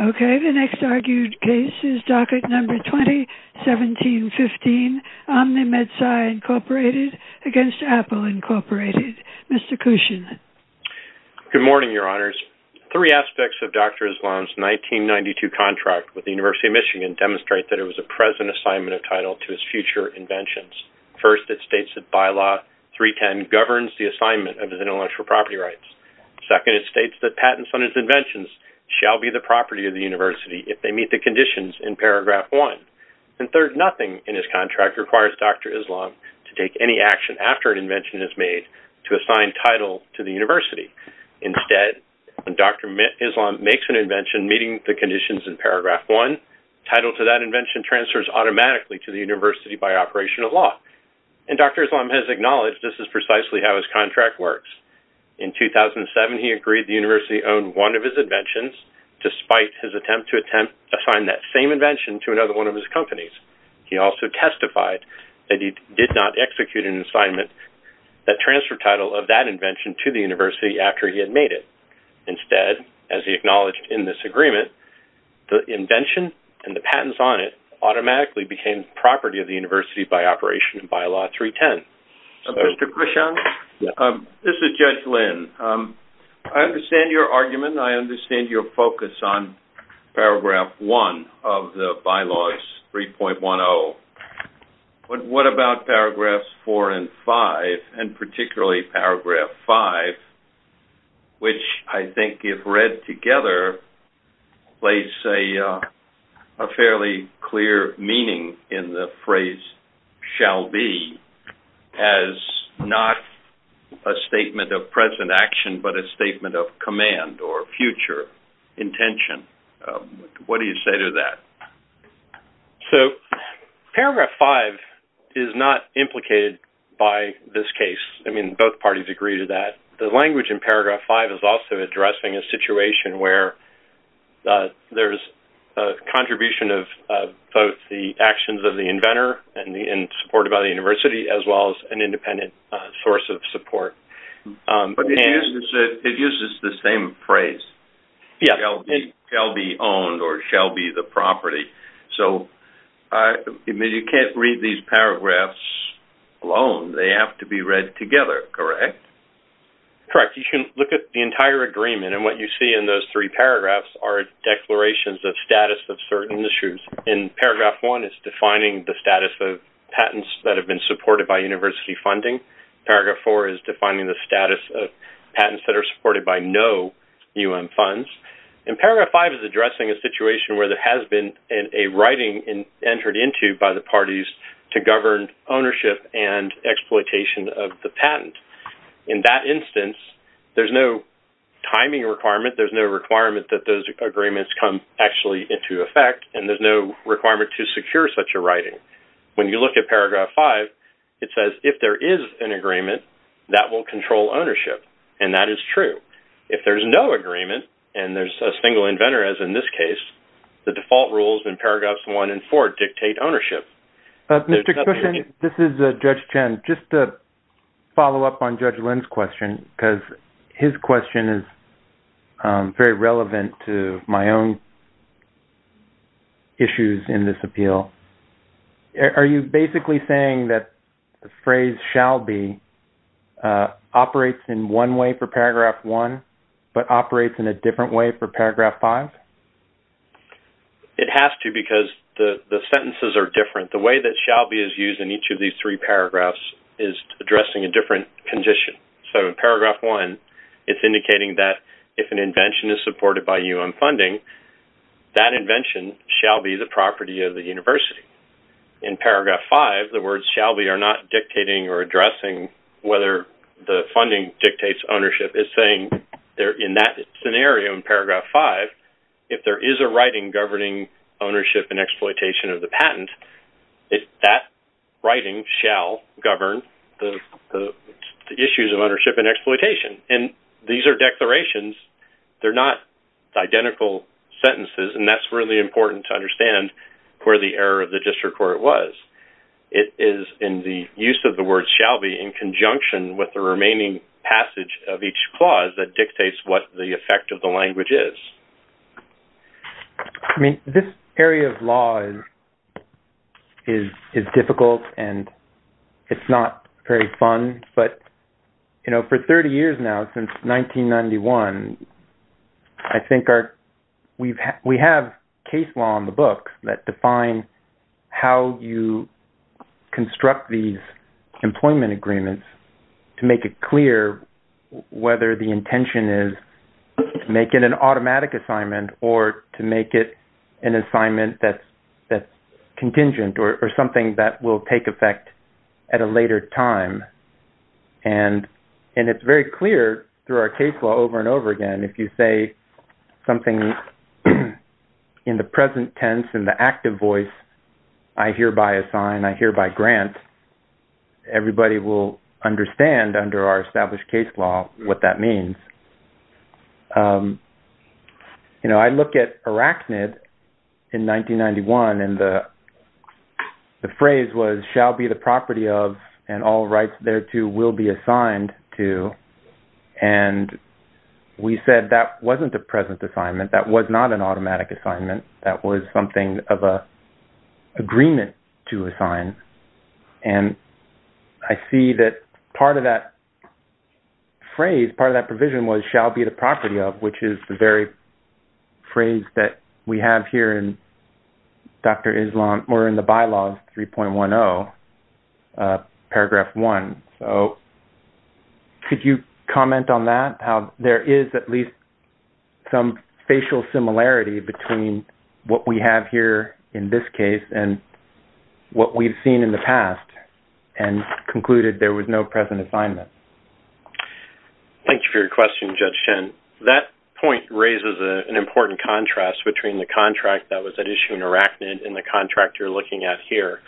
Okay, the next argued case is docket number 201715, Omni MedSci, Inc. v. Apple, Inc. Mr. Cushion. Good morning, Your Honors. Three aspects of Dr. Islam's 1992 contract with the University of Michigan demonstrate that it was a present assignment of title to his future inventions. First, it states that Bylaw 310 governs the assignment of his intellectual property rights. Second, it states that patents on his inventions shall be the property of the university if they meet the conditions in Paragraph 1. And third, nothing in his contract requires Dr. Islam to take any action after an invention is made to assign title to the university. Instead, when Dr. Islam makes an invention meeting the conditions in Paragraph 1, title to that invention transfers automatically to the university by operation of law. And Dr. Islam has acknowledged this is precisely how his contract works. In 2007, he agreed the university owned one of his inventions despite his attempt to assign that same invention to another one of his companies. He also testified that he did not execute an assignment that transferred title of that invention to the university after he had made it. Instead, as he acknowledged in this agreement, the invention and the patents on it automatically became property of the university by operation of Bylaw 310. Mr. Krishan, this is Judge Lin. I understand your argument. I understand your focus on Paragraph 1 of the Bylaws 3.10. What about Paragraphs 4 and 5, and particularly Paragraph 5, which I think if read together, lays a fairly clear meaning in the phrase shall be as not a statement of present action, but a statement of command or future intention. What do you say to that? So, Paragraph 5 is not implicated by this case. I mean, both parties agree to that. The language in Paragraph 5 is also addressing a situation where there's a contribution of both the actions of the inventor and supported by the university, as well as an independent source of support. But it uses the same phrase, shall be owned or shall be the property. So, I mean, you can't read these paragraphs alone. They have to be read together, correct? Correct. You can look at the entire agreement, and what you see in those three paragraphs are declarations of status of certain issues. In Paragraph 1, it's defining the status of patents that have been supported by university funding. Paragraph 4 is defining the status of patents that are supported by no U.N. funds. And Paragraph 5 is addressing a situation where there has been a writing entered into by the parties to govern ownership and exploitation of the patent. In that instance, there's no timing requirement, there's no requirement that those agreements come actually into effect, and there's no requirement to secure such a writing. When you look at Paragraph 5, it says, if there is an agreement, that will control ownership. And that is true. If there's no agreement, and there's a single inventor, as in this case, the default rules in Paragraphs 1 and 4 dictate ownership. This is Judge Chen. Just to follow up on Judge Lynn's question, because his question is very relevant to my own issues in this appeal. Are you basically saying that the phrase shall be operates in one way for Paragraph 1, but operates in a different way for Paragraph 5? It has to, because the sentences are different. The way that shall be is used in each of these three paragraphs is addressing a different condition. So in Paragraph 1, it's indicating that if an invention is supported by U.N. funding, that invention shall be the property of the university. In Paragraph 5, the words shall be are not dictating or addressing whether the funding If there is a writing governing ownership and exploitation of the patent, that writing shall govern the issues of ownership and exploitation. These are declarations. They're not identical sentences, and that's really important to understand where the error of the district court was. It is in the use of the word shall be in conjunction with the remaining passage of each clause that dictates what the effect of the language is. I mean, this area of law is difficult, and it's not very fun. But, you know, for 30 years now, since 1991, I think we have case law on the books that define how you construct these employment agreements to make it clear whether the intention is to make it an automatic assignment or to make it an assignment that's contingent or something that will take effect at a later time. And it's very clear through our case law over and over again. If you say something in the present tense, in the active voice, I hereby assign, I hereby grant, everybody will understand under our established case law what that means. You know, I look at Arachnid in 1991, and the phrase was shall be the property of and all rights thereto will be assigned to. And we said that wasn't a present assignment. That was not an automatic assignment. That was something of an agreement to assign. And I see that part of that phrase, part of that provision was shall be the property of, which is the very phrase that we have here in Dr. Islam, or in the bylaws 3.10, paragraph 1. So could you comment on that, how there is at least some facial similarity between what we have here in this case and what we've seen in the past and concluded there was no present assignment? Thank you for your question, Judge Chen. That point raises an important contrast between the contract that was at issue in Arachnid and the contract you're looking at here.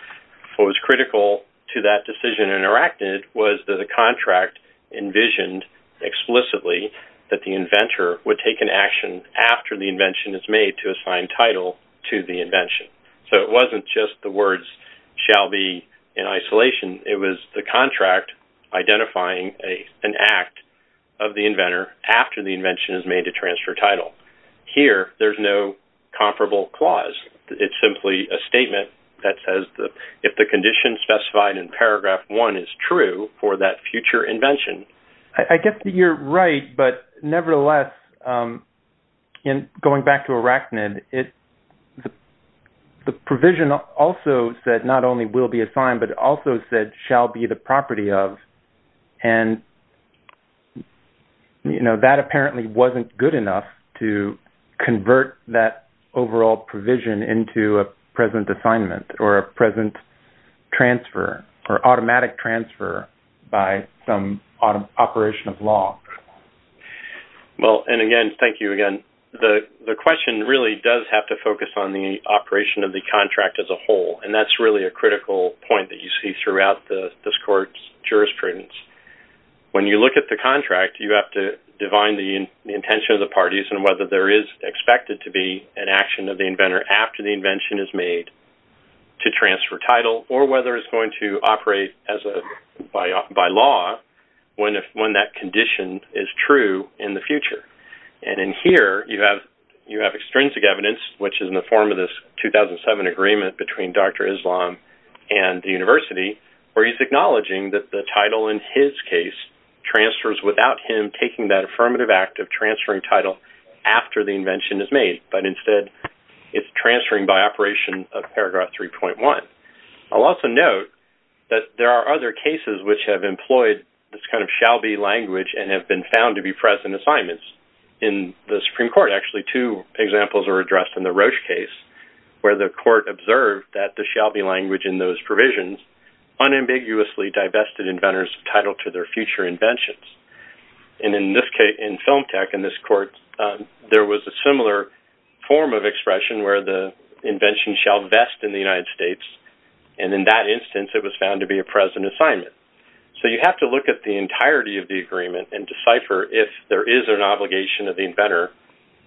What was critical to that decision in Arachnid was that the contract envisioned explicitly that the inventor would take an action after the invention is made to assign title to the invention. So it wasn't just the words shall be in isolation. It was the contract identifying an act of the inventor after the invention is made to transfer title. Here, there's no comparable clause. It's simply a statement that says if the condition specified in paragraph 1 is true for that future invention. I get that you're right, but nevertheless, going back to Arachnid, the provision also said not only will be assigned, but also said shall be the property of. And that apparently wasn't good enough to convert that overall provision into a present assignment or a present transfer or automatic transfer by some operation of law. Well, and again, thank you again. The question really does have to focus on the operation of the contract as a whole, and that's really a critical point that you see throughout this court's jurisprudence. When you look at the contract, you have to define the intention of the parties and whether there is expected to be an action of the inventor after the invention is made to transfer title or whether it's going to operate by law when that condition is true in the future. And in here, you have extrinsic evidence, which is in the form of this 2007 agreement between Dr. Islam and the university where he's acknowledging that the title in his case transfers without him taking that affirmative act of transferring title after the invention is made, but instead it's transferring by operation of paragraph 3.1. I'll also note that there are other cases which have employed this kind of shall be language and have been found to be present assignments in the Supreme Court. Actually, two examples are addressed in the Roche case where the court observed that the shall be language in those provisions unambiguously divested inventors' title to their future inventions. And in this case, in Film Tech, in this court, there was a similar form of expression where the invention shall vest in the United States, and in that instance, it was found to be a present assignment. So you have to look at the entirety of the agreement and decipher if there is an obligation of the inventor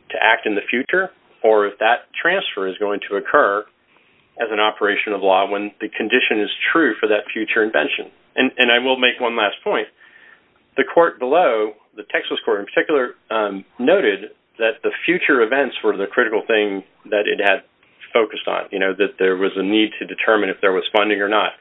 to act in the future or if that transfer is going to occur as an operation of law when the condition is true for that future invention. And I will make one last point. The court below, the Texas court in particular, noted that the future events were the critical thing that it had focused on, you know, that there was a need to determine if there was funding or not.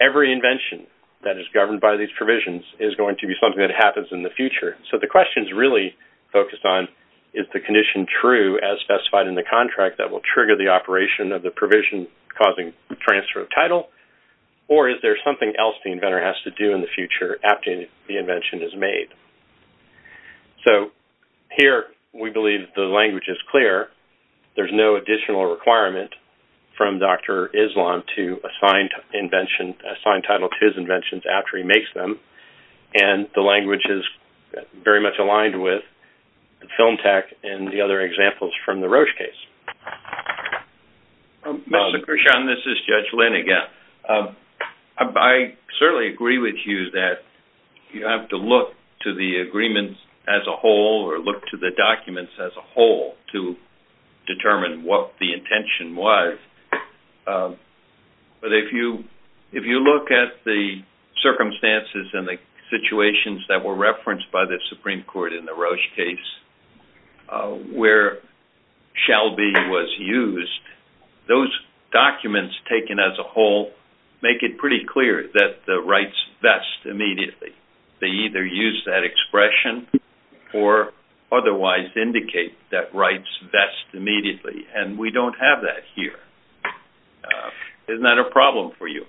Every invention that is governed by these provisions is going to be something that happens in the future. So the question is really focused on is the condition true as specified in the contract that will trigger the operation of the provision causing transfer of title, or is there something else the inventor has to do in the future after the invention is made? So here, we believe the language is clear. There's no additional requirement from Dr. Islam to assign title to his inventions after he makes them. And the language is very much aligned with film tech and the other examples from the Roche case. Mr. Krishan, this is Judge Lin again. I certainly agree with you that you have to look to the agreements as a whole or look to the documents as a whole to determine what the intention was. But if you look at the circumstances and the situations that were referenced by the Supreme Court in the Roche case, where shall be was used, those documents taken as a whole make it pretty clear that the rights vest immediately. They either use that expression or otherwise indicate that rights vest immediately. And we don't have that here. Isn't that a problem for you?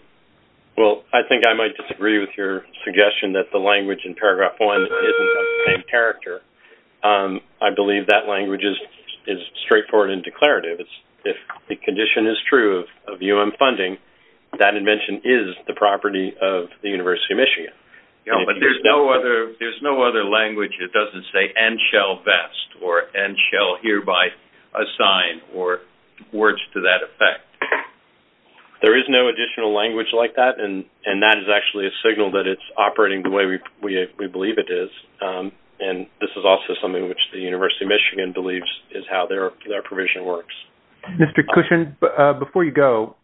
Well, I think I might disagree with your suggestion that the language in paragraph one isn't of the same character. I believe that language is straightforward and declarative. If the condition is true of U.M. funding, that invention is the property of the University of Michigan. But there's no other language that doesn't say and shall vest or and shall hereby assign or words to that effect. There is no additional language like that. And that is actually a signal that it's operating the way we believe it is. And this is also something which the University of Michigan believes is how their provision works. Mr. Cushion, before you go,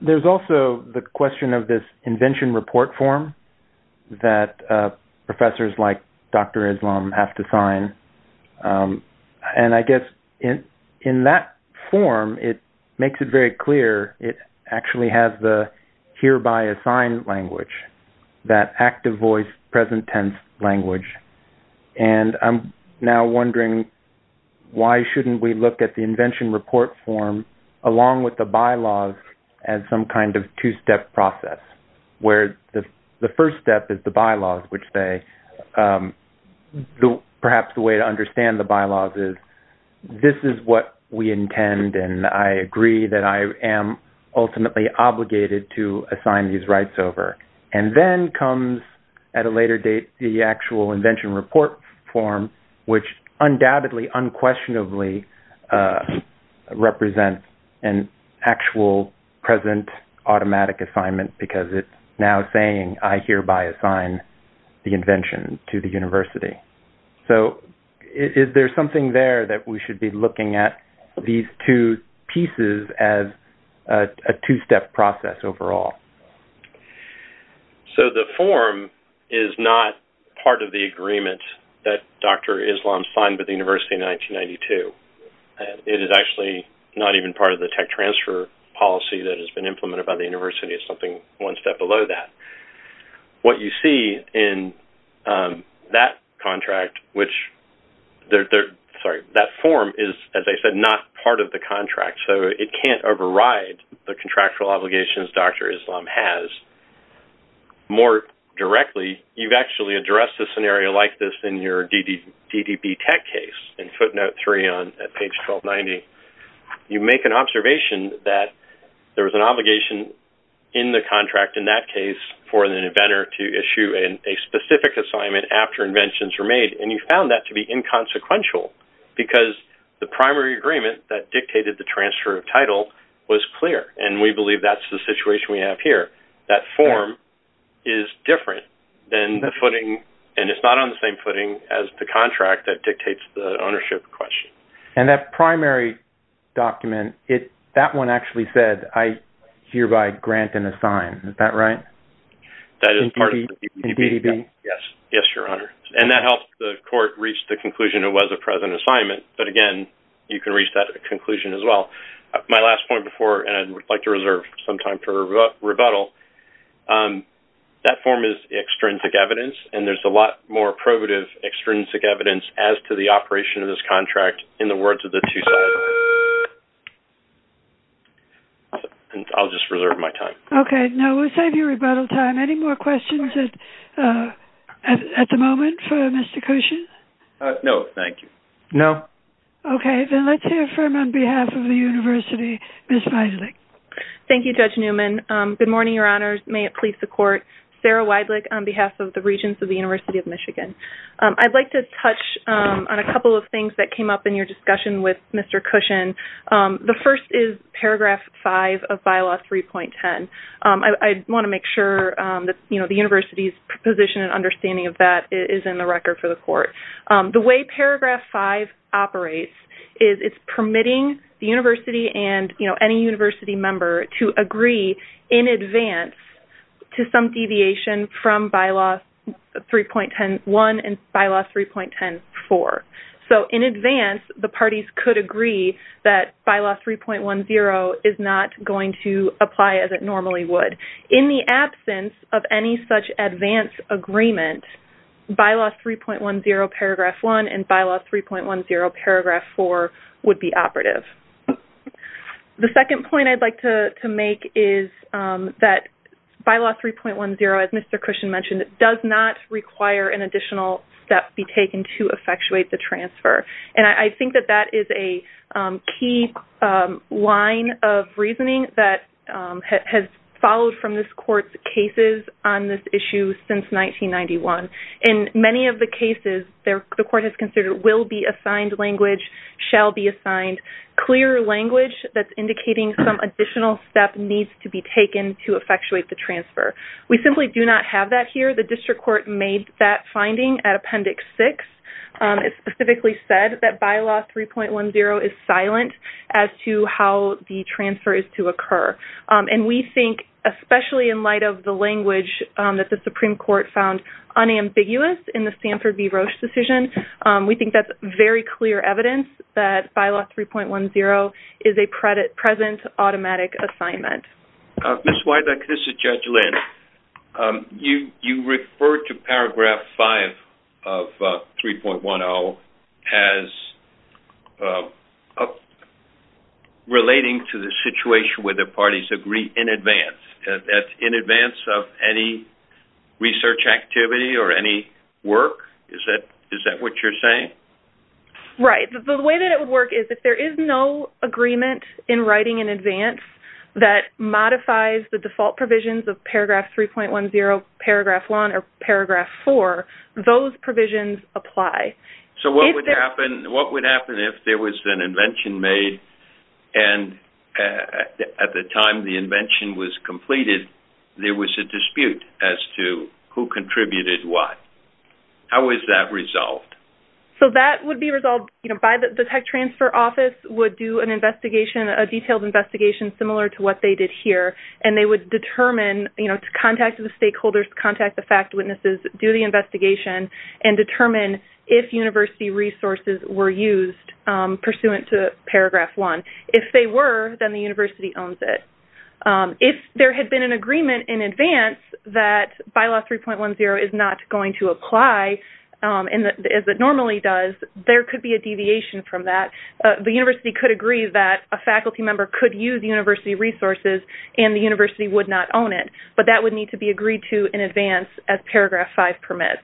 there's also the question of this invention report form that professors like Dr. Islam have to sign. And I guess in that form, it makes it very clear it actually has the hereby assigned language, that active voice present tense language. And I'm now wondering why shouldn't we look at the invention report form along with the bylaws as some kind of two-step process where the first step is the bylaws, which say perhaps the way to understand the bylaws is this is what we intend. And I agree that I am ultimately obligated to assign these rights over. And then comes at a later date the actual invention report form, which undoubtedly unquestionably represents an actual present automatic assignment because it's now saying I hereby assign the invention to the university. So is there something there that we should be looking at these two pieces as a two-step process overall? So the form is not part of the agreement that Dr. Islam signed with the university in 1992. And it is actually not even part of the tech transfer policy that has been implemented by the university. It's something one step below that. What you see in that form is, as I said, not part of the contract. So it can't override the contractual obligations Dr. Islam has. More directly, you've actually addressed a scenario like this in your DDB tech case in footnote three on page 1290. You make an observation that there was an obligation in the contract in that case for an inventor to issue a specific assignment after inventions were made. And you found that to be inconsequential because the primary agreement that dictated the transfer of title was clear. And we believe that's the situation we have here. That form is different than the footing. And it's not on the same footing as the contract that dictates the ownership question. And that primary document, that one actually said I hereby grant and assign. That is part of the DDB. In DDB? Yes. Yes, Your Honor. And that helped the court reach the conclusion it was a present assignment. But, again, you can reach that conclusion as well. My last point before, and I'd like to reserve some time for rebuttal, that form is extrinsic evidence. And there's a lot more probative extrinsic evidence as to the operation of this contract in the words of the two solvers. And I'll just reserve my time. Okay. No, we'll save you rebuttal time. Any more questions at the moment for Mr. Koshin? No, thank you. No? Okay. Then let's hear from, on behalf of the university, Ms. Weidlich. Thank you, Judge Newman. Good morning, Your Honors. May it please the court. Sarah Weidlich on behalf of the Regents of the University of Michigan. I'd like to touch on a couple of things that came up in your discussion with Mr. Koshin. The first is paragraph five of bylaw 3.10. I want to make sure that, you know, the university's position and understanding of that is in the record for the court. The way paragraph five operates is it's permitting the university and, you know, any university member to agree in advance to some deviation from bylaw 3.10.1 and bylaw 3.10.4. So in advance, the parties could agree that bylaw 3.10 is not going to apply as it normally would. And in the absence of any such advance agreement, bylaw 3.10 paragraph one and bylaw 3.10 paragraph four would be operative. The second point I'd like to make is that bylaw 3.10, as Mr. Koshin mentioned, does not require an additional step be taken to effectuate the transfer. And I think that that is a key line of reasoning that has followed from this court's cases on this issue since 1991. In many of the cases, the court has considered will be assigned language, shall be assigned clear language that's indicating some additional step needs to be taken to effectuate the transfer. We simply do not have that here. The district court made that finding at appendix six. It specifically said that bylaw 3.10 is silent as to how the transfer is to occur. And we think, especially in light of the language that the Supreme Court found unambiguous in the Sanford v. Roche decision, we think that's very clear evidence that bylaw 3.10 is a present automatic assignment. This is Judge Lynn. You referred to paragraph five of 3.10 as relating to the situation where the parties agree in advance, in advance of any research activity or any work. Is that what you're saying? Right. The way that it would work is if there is no agreement in writing in advance that modifies the default provisions of paragraph 3.10, paragraph one, or paragraph four, those provisions apply. So what would happen if there was an invention made and at the time the invention was completed there was a dispute as to who contributed what? How is that resolved? So that would be resolved by the tech transfer office would do an investigation, a detailed investigation similar to what they did here, and they would determine, you know, contact the stakeholders, contact the fact witnesses, do the investigation, and determine if university resources were used pursuant to paragraph one. If they were, then the university owns it. If there had been an agreement in advance that bylaw 3.10 is not going to apply as it normally does, there could be a deviation from that. The university could agree that a faculty member could use university resources and the university would not own it, but that would need to be agreed to in advance as paragraph five permits.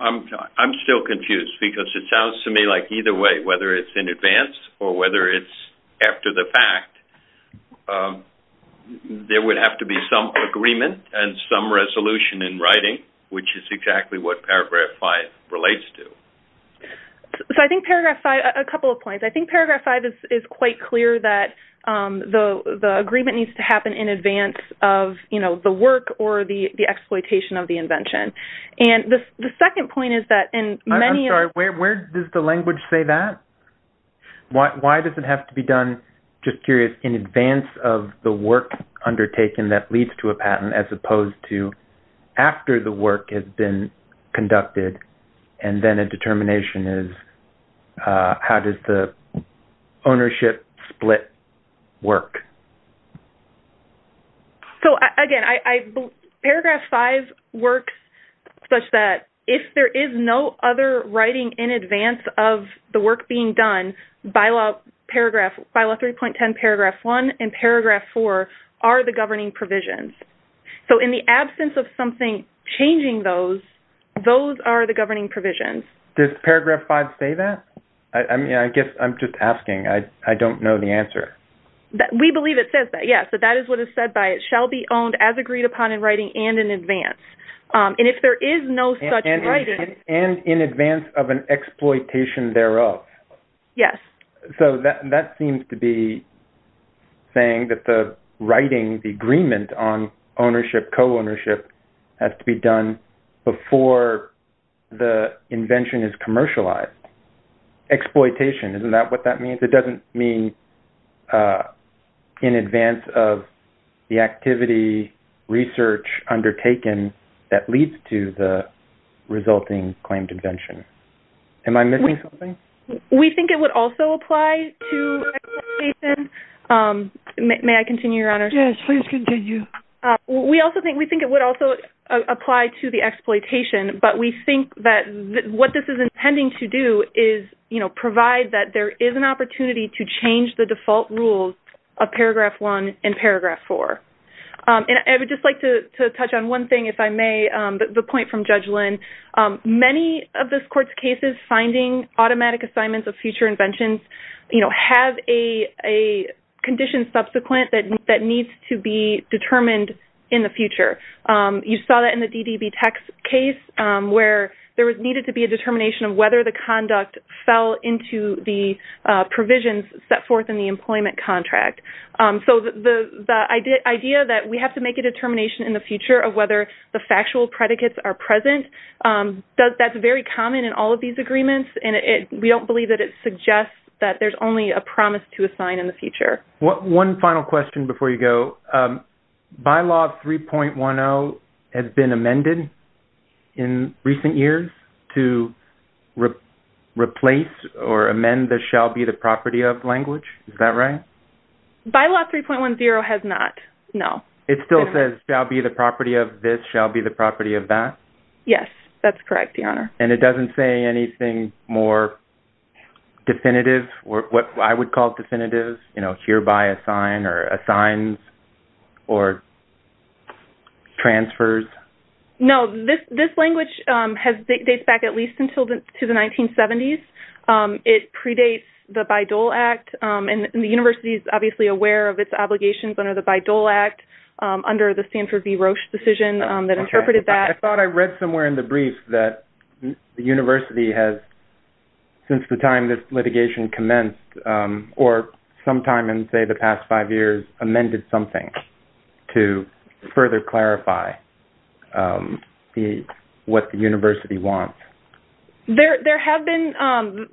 I'm still confused because it sounds to me like either way, whether it's in advance or whether it's after the fact, there would have to be some agreement and some resolution in writing, which is exactly what paragraph five relates to. So I think paragraph five, a couple of points. I think paragraph five is quite clear that the agreement needs to happen in advance of, you know, the work or the exploitation of the invention. And the second point is that in many of the… I'm sorry, where does the language say that? Why does it have to be done, just curious, in advance of the work undertaken that leads to a patent as opposed to after the work has been conducted and then a determination is how does the ownership split work? So, again, paragraph five works such that if there is no other writing in advance of the work being done, bylaw 3.10 paragraph one and paragraph four are the governing provisions. So in the absence of something changing those, those are the governing provisions. Does paragraph five say that? I mean, I guess I'm just asking. I don't know the answer. We believe it says that, yes. So that is what is said by it shall be owned as agreed upon in writing and in advance. And if there is no such writing… And in advance of an exploitation thereof. Yes. So that seems to be saying that the writing, the agreement on ownership, co-ownership has to be done before the invention is commercialized. Exploitation, isn't that what that means? It doesn't mean in advance of the activity, research undertaken that leads to the resulting claimed invention. Am I missing something? We think it would also apply to exploitation. May I continue, Your Honor? Yes, please continue. We also think it would also apply to the exploitation, but we think that what this is intending to do is, you know, provide that there is an opportunity to change the default rules of paragraph one and paragraph four. And I would just like to touch on one thing, if I may, the point from Judge Lynn. Many of this Court's cases finding automatic assignments of future inventions, you know, have a condition subsequent that needs to be determined in the future. You saw that in the DDB text case where there needed to be a determination of whether the conduct fell into the provisions set forth in the employment contract. So the idea that we have to make a determination in the future of whether the That's very common in all of these agreements, and we don't believe that it suggests that there's only a promise to assign in the future. One final question before you go. Bylaw 3.10 has been amended in recent years to replace or amend the shall be the property of language. Is that right? Bylaw 3.10 has not, no. It still says shall be the property of this, shall be the property of that? Yes, that's correct, Your Honor. And it doesn't say anything more definitive, what I would call definitive, you know, hereby assign or assigns or transfers? No, this language dates back at least until the 1970s. It predates the Bayh-Dole Act, and the university is obviously aware of its obligations under the Bayh-Dole Act under the Stanford v. Roche decision that interpreted that. I thought I read somewhere in the brief that the university has, since the time this litigation commenced or sometime in, say, the past five years, amended something to further clarify what the university wants. There have been,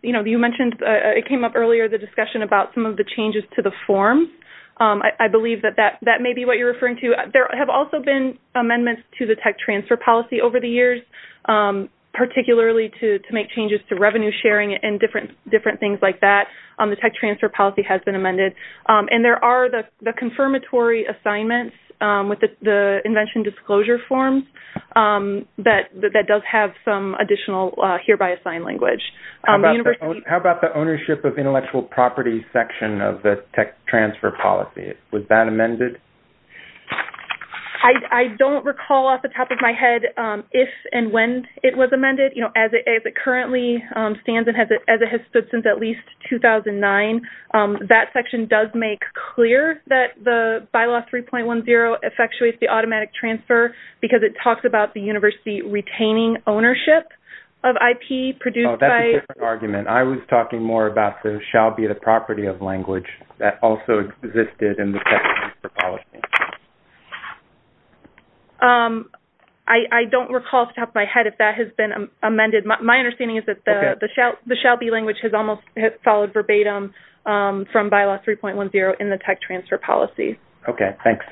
you know, you mentioned it came up earlier, the discussion about some of the changes to the form. I believe that that may be what you're referring to. There have also been amendments to the tech transfer policy over the years, particularly to make changes to revenue sharing and different things like that. The tech transfer policy has been amended. And there are the confirmatory assignments with the invention disclosure form that does have some additional hereby assigned language. How about the ownership of intellectual property section of the tech transfer policy? Was that amended? I don't recall off the top of my head if and when it was amended. As it currently stands and as it has stood since at least 2009, that section does make clear that the Bylaw 3.10 effectuates the automatic transfer because it talks about the university retaining ownership of IP produced by- That's a different argument. I was talking more about the shall be the property of language that also existed in the tech transfer policy. I don't recall off the top of my head if that has been amended. My understanding is that the shall be language has almost followed verbatim from Bylaw 3.10 in the tech transfer policy. Okay, thanks.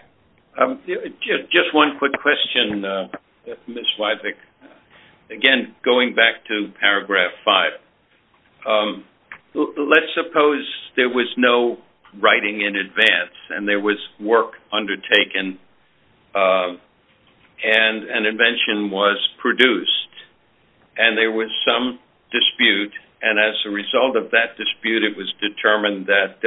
Just one quick question, Ms. Wyzik. Again, going back to Paragraph 5, let's suppose there was no writing in advance and there was work undertaken and an invention was produced and there was some dispute. And as a result of that dispute, it was determined that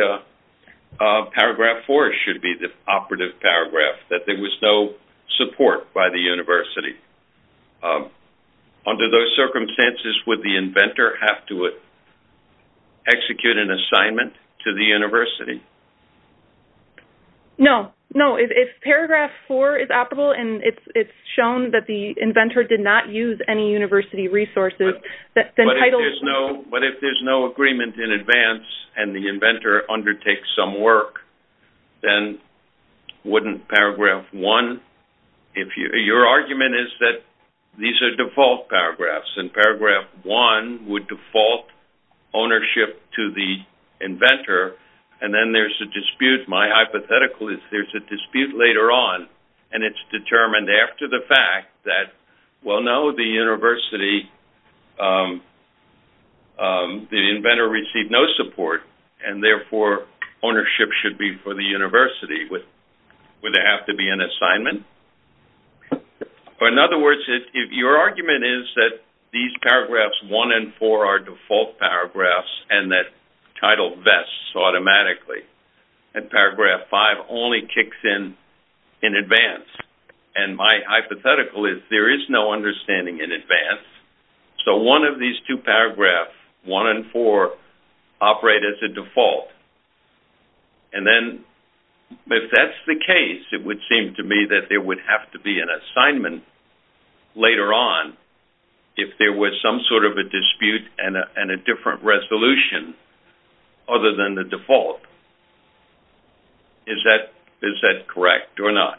Paragraph 4 should be the operative paragraph, that there was no support by the university. Under those circumstances, would the inventor have to execute an assignment to the university? No. No, if Paragraph 4 is operable and it's shown that the inventor did not use any university resources, but if there's no agreement in advance and the inventor undertakes some work, then wouldn't Paragraph 1, your argument is that these are default paragraphs and Paragraph 1 would default ownership to the inventor and then there's a dispute. My hypothetical is there's a dispute later on and it's determined after the fact that, well, no, the inventor received no support and therefore ownership should be for the university. Would there have to be an assignment? In other words, your argument is that these paragraphs 1 and 4 are default paragraphs and that title vests automatically and Paragraph 5 only kicks in in advance. And my hypothetical is there is no understanding in advance, so one of these two paragraphs, 1 and 4, operate as a default. And then if that's the case, it would seem to me that there would have to be an assignment later on if there was some sort of a dispute and a different resolution other than the default. Is that correct or not?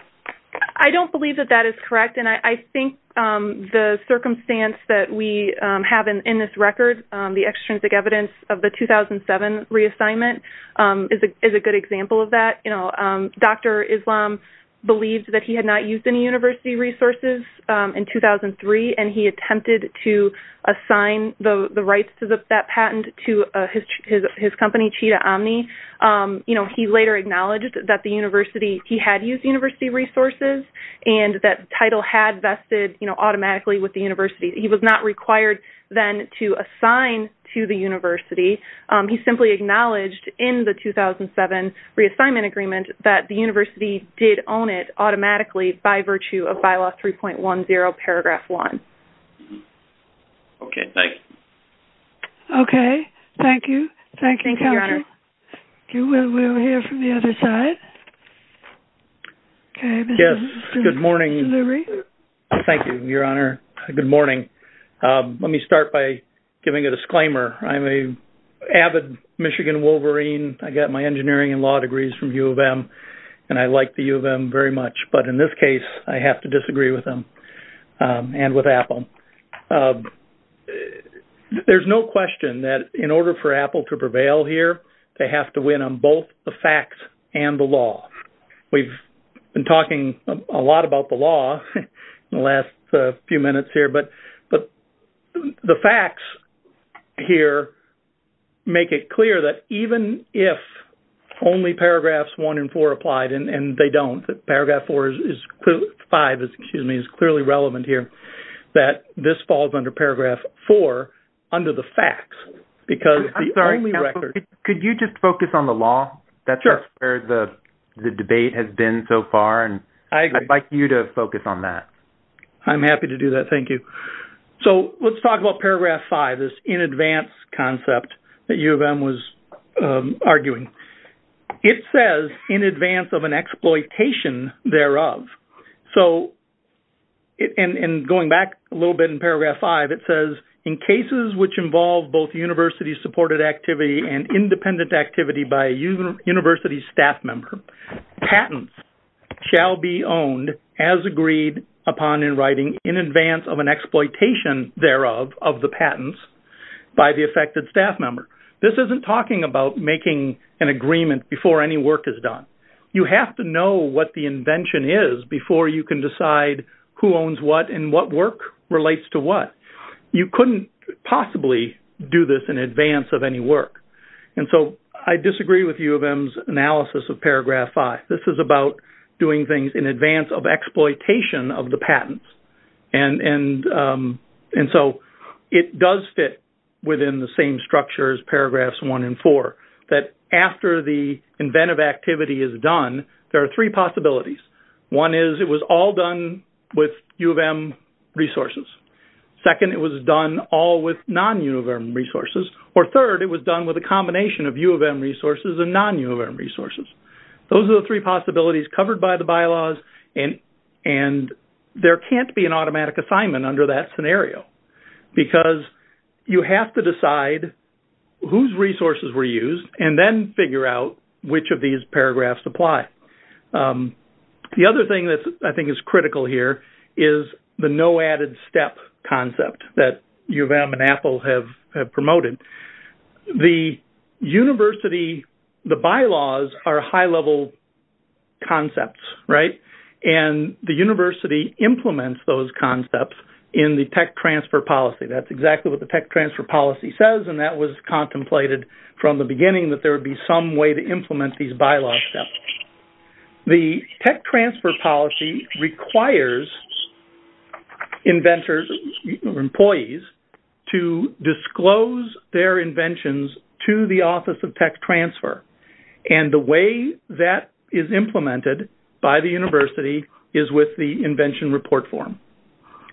I don't believe that that is correct and I think the circumstance that we have in this record, the extrinsic evidence of the 2007 reassignment, is a good example of that. Dr. Islam believed that he had not used any university resources in 2003 and he attempted to assign the rights to that patent to his company, Chita Omni. He later acknowledged that he had used university resources and that title had vested automatically with the university. He was not required then to assign to the university. He simply acknowledged in the 2007 reassignment agreement that the university did own it automatically by virtue of Bylaw 3.10, Paragraph 1. Okay. Thank you. Okay. Thank you. Thank you, Your Honor. Okay. We'll hear from the other side. Okay. Yes. Good morning. Thank you, Your Honor. Good morning. Let me start by giving a disclaimer. I'm an avid Michigan Wolverine. I got my engineering and law degrees from U of M but in this case I have to disagree with them and with Apple. There's no question that in order for Apple to prevail here, they have to win on both the facts and the law. We've been talking a lot about the law in the last few minutes here but the facts here make it clear that even if only Paragraphs 1 and 4 applied and they don't, Paragraph 5 is clearly relevant here, that this falls under Paragraph 4 under the facts because the only record- I'm sorry, counsel. Could you just focus on the law? That's where the debate has been so far and I'd like you to focus on that. I'm happy to do that. Thank you. So let's talk about Paragraph 5, this in advance concept that U of M was arguing. It says in advance of an exploitation thereof. And going back a little bit in Paragraph 5, it says, in cases which involve both university-supported activity and independent activity by a university staff member, patents shall be owned as agreed upon in writing in advance of an exploitation thereof of the patents by the affected staff member. This isn't talking about making an agreement before any work is done. You have to know what the invention is before you can decide who owns what and what work relates to what. You couldn't possibly do this in advance of any work. And so I disagree with U of M's analysis of Paragraph 5. This is about doing things in advance of exploitation of the patents. And so it does fit within the same structure as Paragraphs 1 and 4, that after the inventive activity is done, there are three possibilities. One is it was all done with U of M resources. Second, it was done all with non-U of M resources. Or third, it was done with a combination of U of M resources and non-U of M resources. Those are the three possibilities covered by the bylaws, and there can't be an automatic assignment under that scenario because you have to decide whose resources were used and then figure out which of these paragraphs apply. The other thing that I think is critical here is the no added step concept that U of M and Apple have promoted. The university, the bylaws are high-level concepts, right? And the university implements those concepts in the tech transfer policy. That's exactly what the tech transfer policy says, and that was contemplated from the beginning, that there would be some way to implement these bylaws steps. The tech transfer policy requires inventors or employees to disclose their inventions to the Office of Tech Transfer. And the way that is implemented by the university is with the invention report form.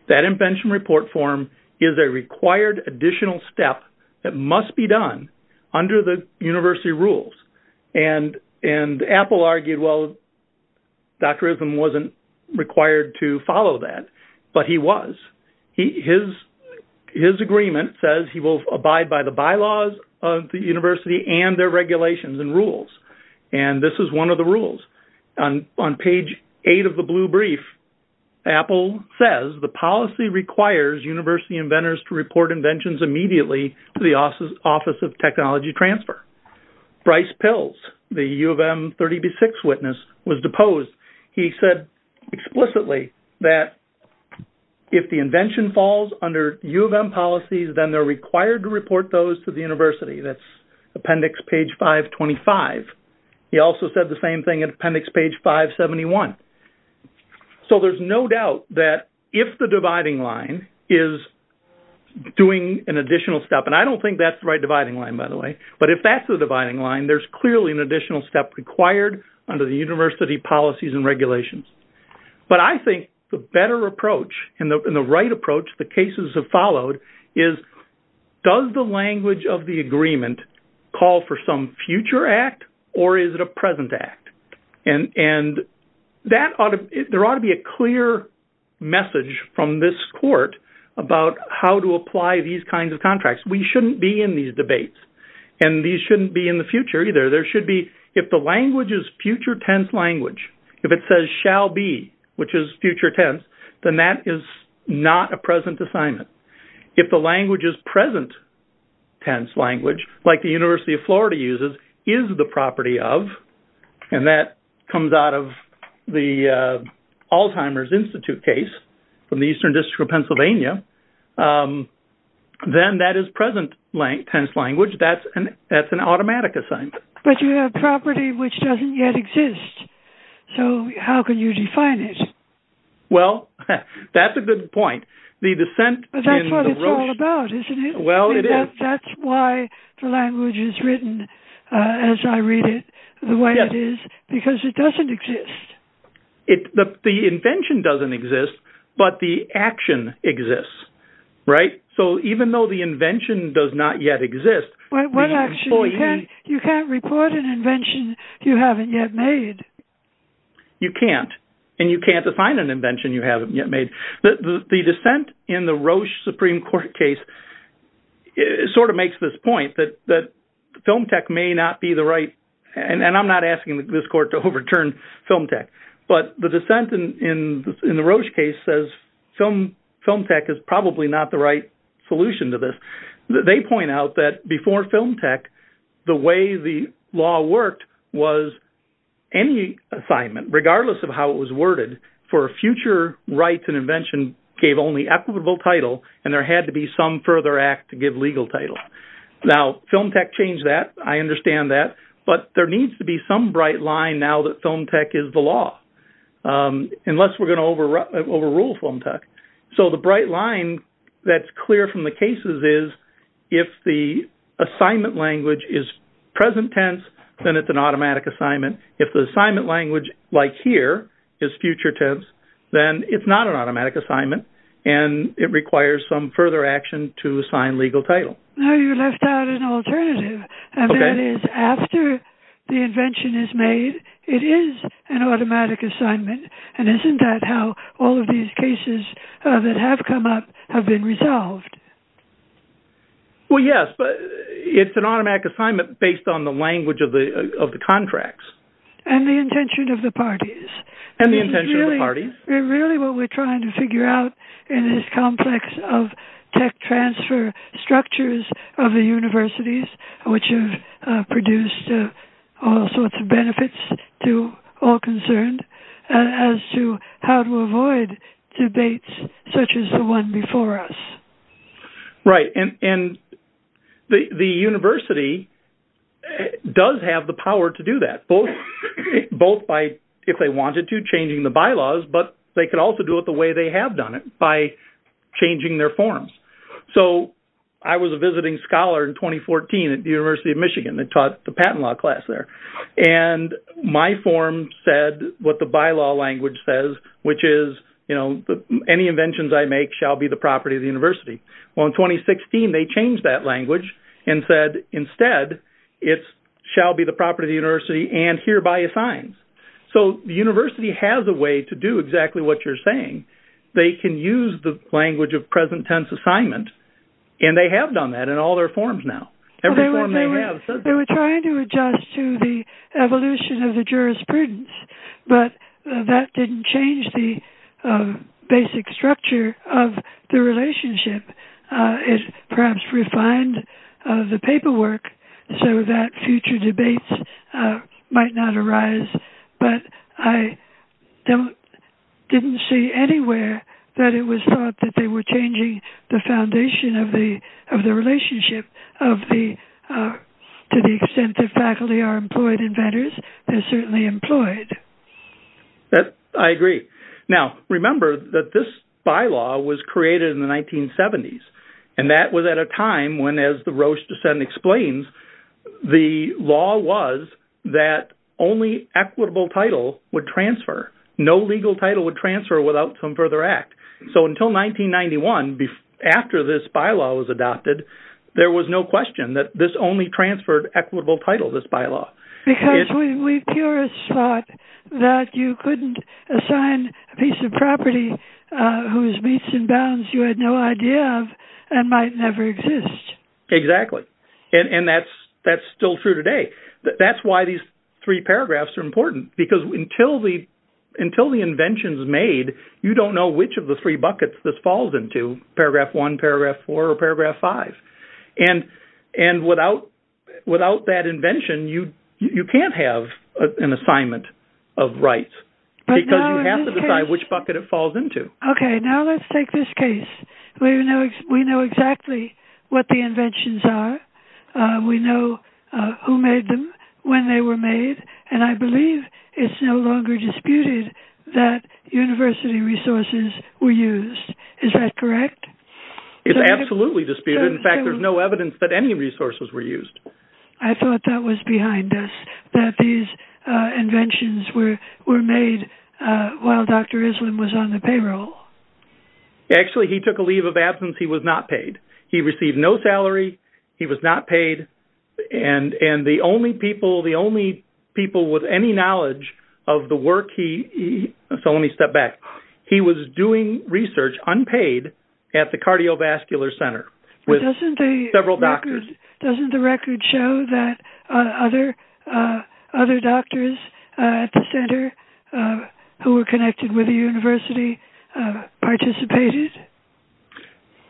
That invention report form is a required additional step that must be done under the university rules. And Apple argued, well, Dr. Isen wasn't required to follow that, but he was. His agreement says he will abide by the bylaws of the university and their regulations and rules. And this is one of the rules. On page 8 of the blue brief, Apple says the policy requires university inventors to report inventions immediately to the Office of Technology Transfer. Bryce Pills, the U of M 30B6 witness, was deposed. He said explicitly that if the invention falls under U of M policies, then they're required to report those to the university. That's appendix page 525. He also said the same thing at appendix page 571. So there's no doubt that if the dividing line is doing an additional step, and I don't think that's the right dividing line, by the way, but if that's the dividing line, there's clearly an additional step required under the university policies and regulations. But I think the better approach and the right approach the cases have followed is does the language of the agreement call for some future act or is it a present act? And there ought to be a clear message from this court about how to apply these kinds of contracts. We shouldn't be in these debates, and these shouldn't be in the future either. There should be, if the language is future tense language, if it says shall be, which is future tense, then that is not a present assignment. If the language is present tense language, like the University of Florida uses, is the property of, and that comes out of the Alzheimer's Institute case from the Eastern District of Pennsylvania, then that is present tense language. That's an automatic assignment. But you have property which doesn't yet exist. So how can you define it? Well, that's a good point. But that's what it's all about, isn't it? Well, it is. That's why the language is written as I read it, the way it is, because it doesn't exist. The invention doesn't exist, but the action exists, right? So even though the invention does not yet exist, What action? You can't report an invention you haven't yet made. You can't, and you can't define an invention you haven't yet made. The dissent in the Roche Supreme Court case sort of makes this point that Film Tech may not be the right, and I'm not asking this court to overturn Film Tech, but the dissent in the Roche case says Film Tech is probably not the right solution to this. They point out that before Film Tech, the way the law worked was any assignment, regardless of how it was worded, for a future rights and invention, gave only equitable title, and there had to be some further act to give legal title. Now, Film Tech changed that. I understand that. But there needs to be some bright line now that Film Tech is the law, unless we're going to overrule Film Tech. So the bright line that's clear from the cases is if the assignment language is present tense, then it's an automatic assignment. If the assignment language, like here, is future tense, then it's not an automatic assignment, and it requires some further action to assign legal title. Now you left out an alternative, and that is after the invention is made, it is an automatic assignment, and isn't that how all of these cases that have come up have been resolved? Well, yes, but it's an automatic assignment based on the language of the contracts. And the intention of the parties. And the intention of the parties. Really what we're trying to figure out in this complex of tech transfer structures of the universities, which have produced all sorts of benefits to all concerned, as to how to avoid debates such as the one before us. Right, and the university does have the power to do that, both by, if they wanted to, changing the bylaws, but they could also do it the way they have done it, by changing their forms. So I was a visiting scholar in 2014 at the University of Michigan that taught the patent law class there, and my form said what the bylaw language says, which is, you know, any inventions I make shall be the property of the university. Well, in 2016 they changed that language and said, instead it shall be the property of the university and hereby assigns. So the university has a way to do exactly what you're saying. They can use the language of present tense assignment, and they have done that in all their forms now. They were trying to adjust to the evolution of the jurisprudence, but that didn't change the basic structure of the relationship. It perhaps refined the paperwork so that future debates might not arise, but I didn't see anywhere that it was thought that they were changing the foundation of the relationship to the extent that faculty are employed inventors. They're certainly employed. I agree. Now, remember that this bylaw was created in the 1970s, and that was at a time when, as the Roche descent explains, the law was that only equitable title would transfer. No legal title would transfer without some further act. So until 1991, after this bylaw was adopted, there was no question that this only transferred equitable title, this bylaw. Because we purists thought that you couldn't assign a piece of property whose beats and bounds you had no idea of and might never exist. Exactly. And that's still true today. That's why these three paragraphs are important, because until the invention is made, you don't know which of the three buckets this falls into, paragraph one, paragraph four, or paragraph five. And without that invention, you can't have an assignment of rights because you have to decide which bucket it falls into. Okay, now let's take this case. We know exactly what the inventions are. We know who made them, when they were made, and I believe it's no longer disputed that university resources were used. Is that correct? It's absolutely disputed. In fact, there's no evidence that any resources were used. I thought that was behind us, that these inventions were made while Dr. Islam was on the payroll. Actually, he took a leave of absence. He was not paid. He received no salary. He was not paid. And the only people with any knowledge of the work he – so let me step back. He was doing research unpaid at the cardiovascular center with several doctors. Doesn't the record show that other doctors at the center who were connected with the university participated?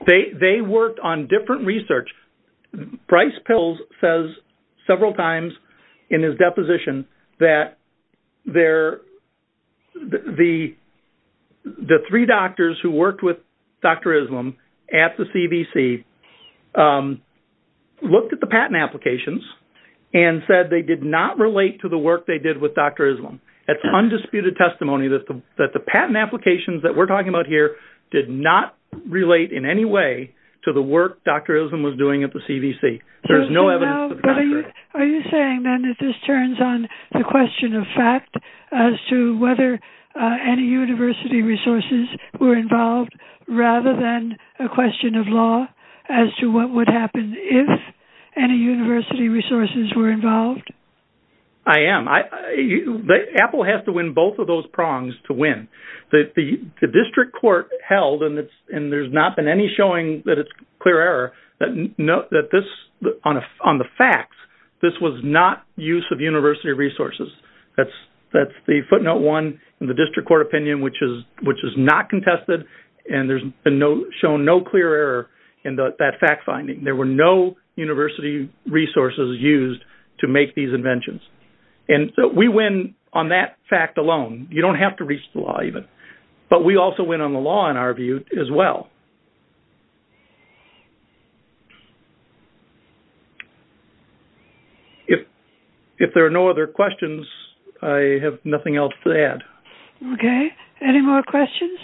They worked on different research. Bryce Pills says several times in his deposition that the three doctors who worked with Dr. Islam at the CBC looked at the patent applications and said they did not relate to the work they did with Dr. Islam. That's undisputed testimony that the patent applications that we're talking about here did not relate in any way to the work Dr. Islam was doing at the CBC. There's no evidence. Are you saying then that this turns on the question of fact as to whether any university resources were involved rather than a question of law as to what would happen if any university resources were involved? I am. Apple has to win both of those prongs to win. The district court held, and there's not been any showing that it's clear error, that on the facts, this was not use of university resources. That's the footnote one in the district court opinion, which is not contested, and there's been shown no clear error in that fact finding. There were no university resources used to make these inventions. And we win on that fact alone. You don't have to reach the law even. But we also win on the law in our view as well. If there are no other questions, I have nothing else to add. Okay. Any more questions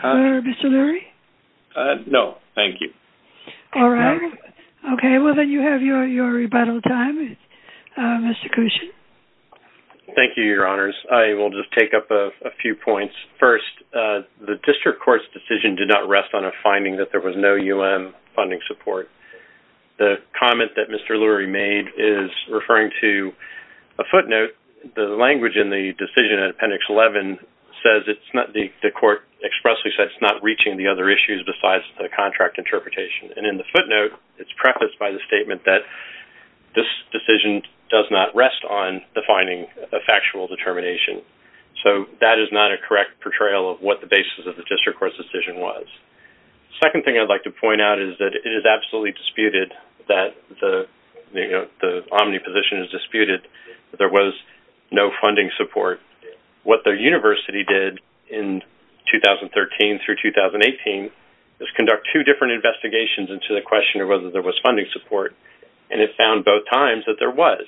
for Mr. Lurie? No, thank you. All right. Okay, well, then you have your rebuttal time, Mr. Cushon. Thank you, Your Honors. I will just take up a few points. First, the district court's decision did not rest on a finding that there was no UM funding support. The comment that Mr. Lurie made is referring to a footnote. The language in the decision in Appendix 11 says it's not the court expressly says it's not reaching the other issues besides the contract interpretation. And in the footnote, it's prefaced by the statement that this decision does not rest on defining a factual determination. So that is not a correct portrayal of what the basis of the district court's decision was. Second thing I'd like to point out is that it is absolutely disputed that the omniposition is disputed that there was no funding support. What the university did in 2013 through 2018 is conduct two different investigations into the question of whether there was funding support. And it found both times that there was.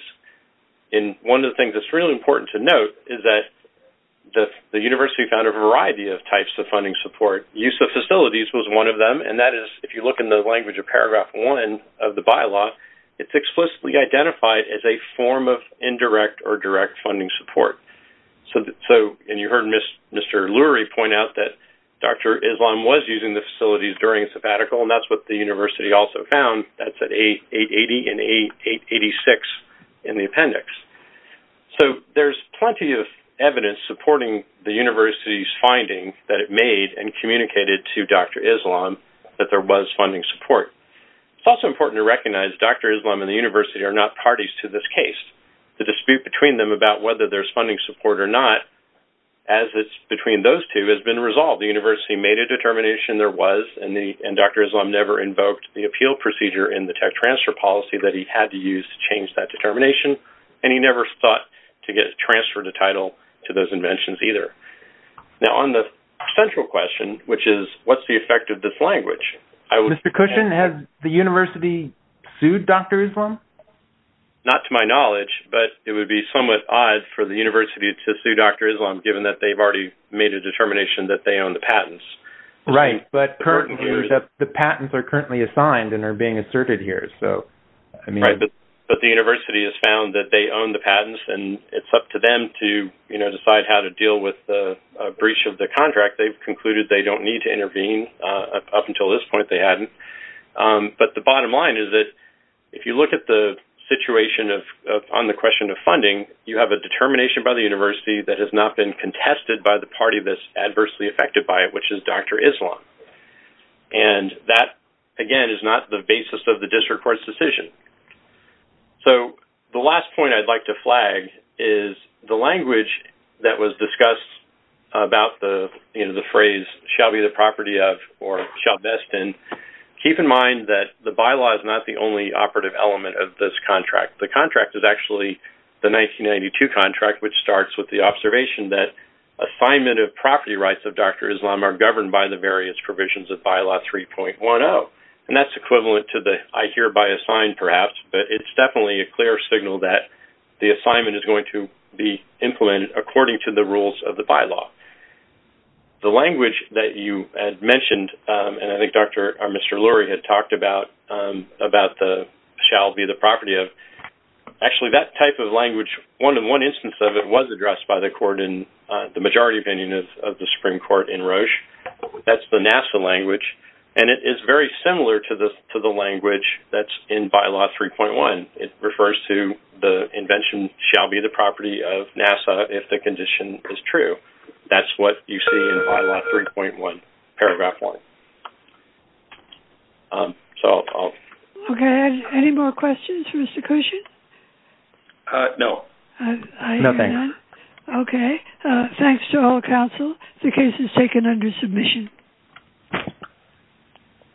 And one of the things that's really important to note is that the university found a variety of types of funding support. Use of facilities was one of them. And that is, if you look in the language of Paragraph 1 of the bylaw, it's explicitly identified as a form of indirect or direct funding support. And you heard Mr. Lurie point out that Dr. Islam was using the facilities during a sabbatical, and that's what the university also found. That's at 880 and 886 in the appendix. So there's plenty of evidence supporting the university's finding that it made and communicated to Dr. Islam that there was funding support. It's also important to recognize Dr. Islam and the university are not parties to this case. The dispute between them about whether there's funding support or not, as it's between those two, has been resolved. The university made a determination there was, and Dr. Islam never invoked the appeal procedure in the tech transfer policy that he had to use to change that determination, and he never sought to transfer the title to those inventions either. Now, on the central question, which is, what's the effect of this language? Mr. Cushin, has the university sued Dr. Islam? Not to my knowledge, but it would be somewhat odd for the university to sue Dr. Islam, Right, but the patents are currently assigned and are being asserted here. Right, but the university has found that they own the patents, and it's up to them to decide how to deal with the breach of the contract. They've concluded they don't need to intervene. Up until this point, they hadn't. But the bottom line is that if you look at the situation on the question of funding, you have a determination by the university that has not been contested by the party that's adversely affected by it, which is Dr. Islam. And that, again, is not the basis of the district court's decision. So the last point I'd like to flag is the language that was discussed about the phrase, shall be the property of, or shall best in, keep in mind that the bylaw is not the only operative element of this contract. The contract is actually the 1992 contract, which starts with the observation that assignment of property rights of Dr. Islam are governed by the various provisions of Bylaw 3.10. And that's equivalent to the I hereby assign, perhaps, but it's definitely a clear signal that the assignment is going to be implemented according to the rules of the bylaw. The language that you had mentioned, and I think Dr. or Mr. Lurie had talked about the shall be the property of, actually, that type of language, one instance of it was addressed by the court in the majority opinion of the Supreme Court in Roche. That's the NASA language, and it is very similar to the language that's in Bylaw 3.1. It refers to the invention shall be the property of NASA if the condition is true. That's what you see in Bylaw 3.1, Paragraph 1. Okay. Any more questions for Mr. Cushing? No. No, thanks. Okay. Thanks to all counsel. The case is taken under submission.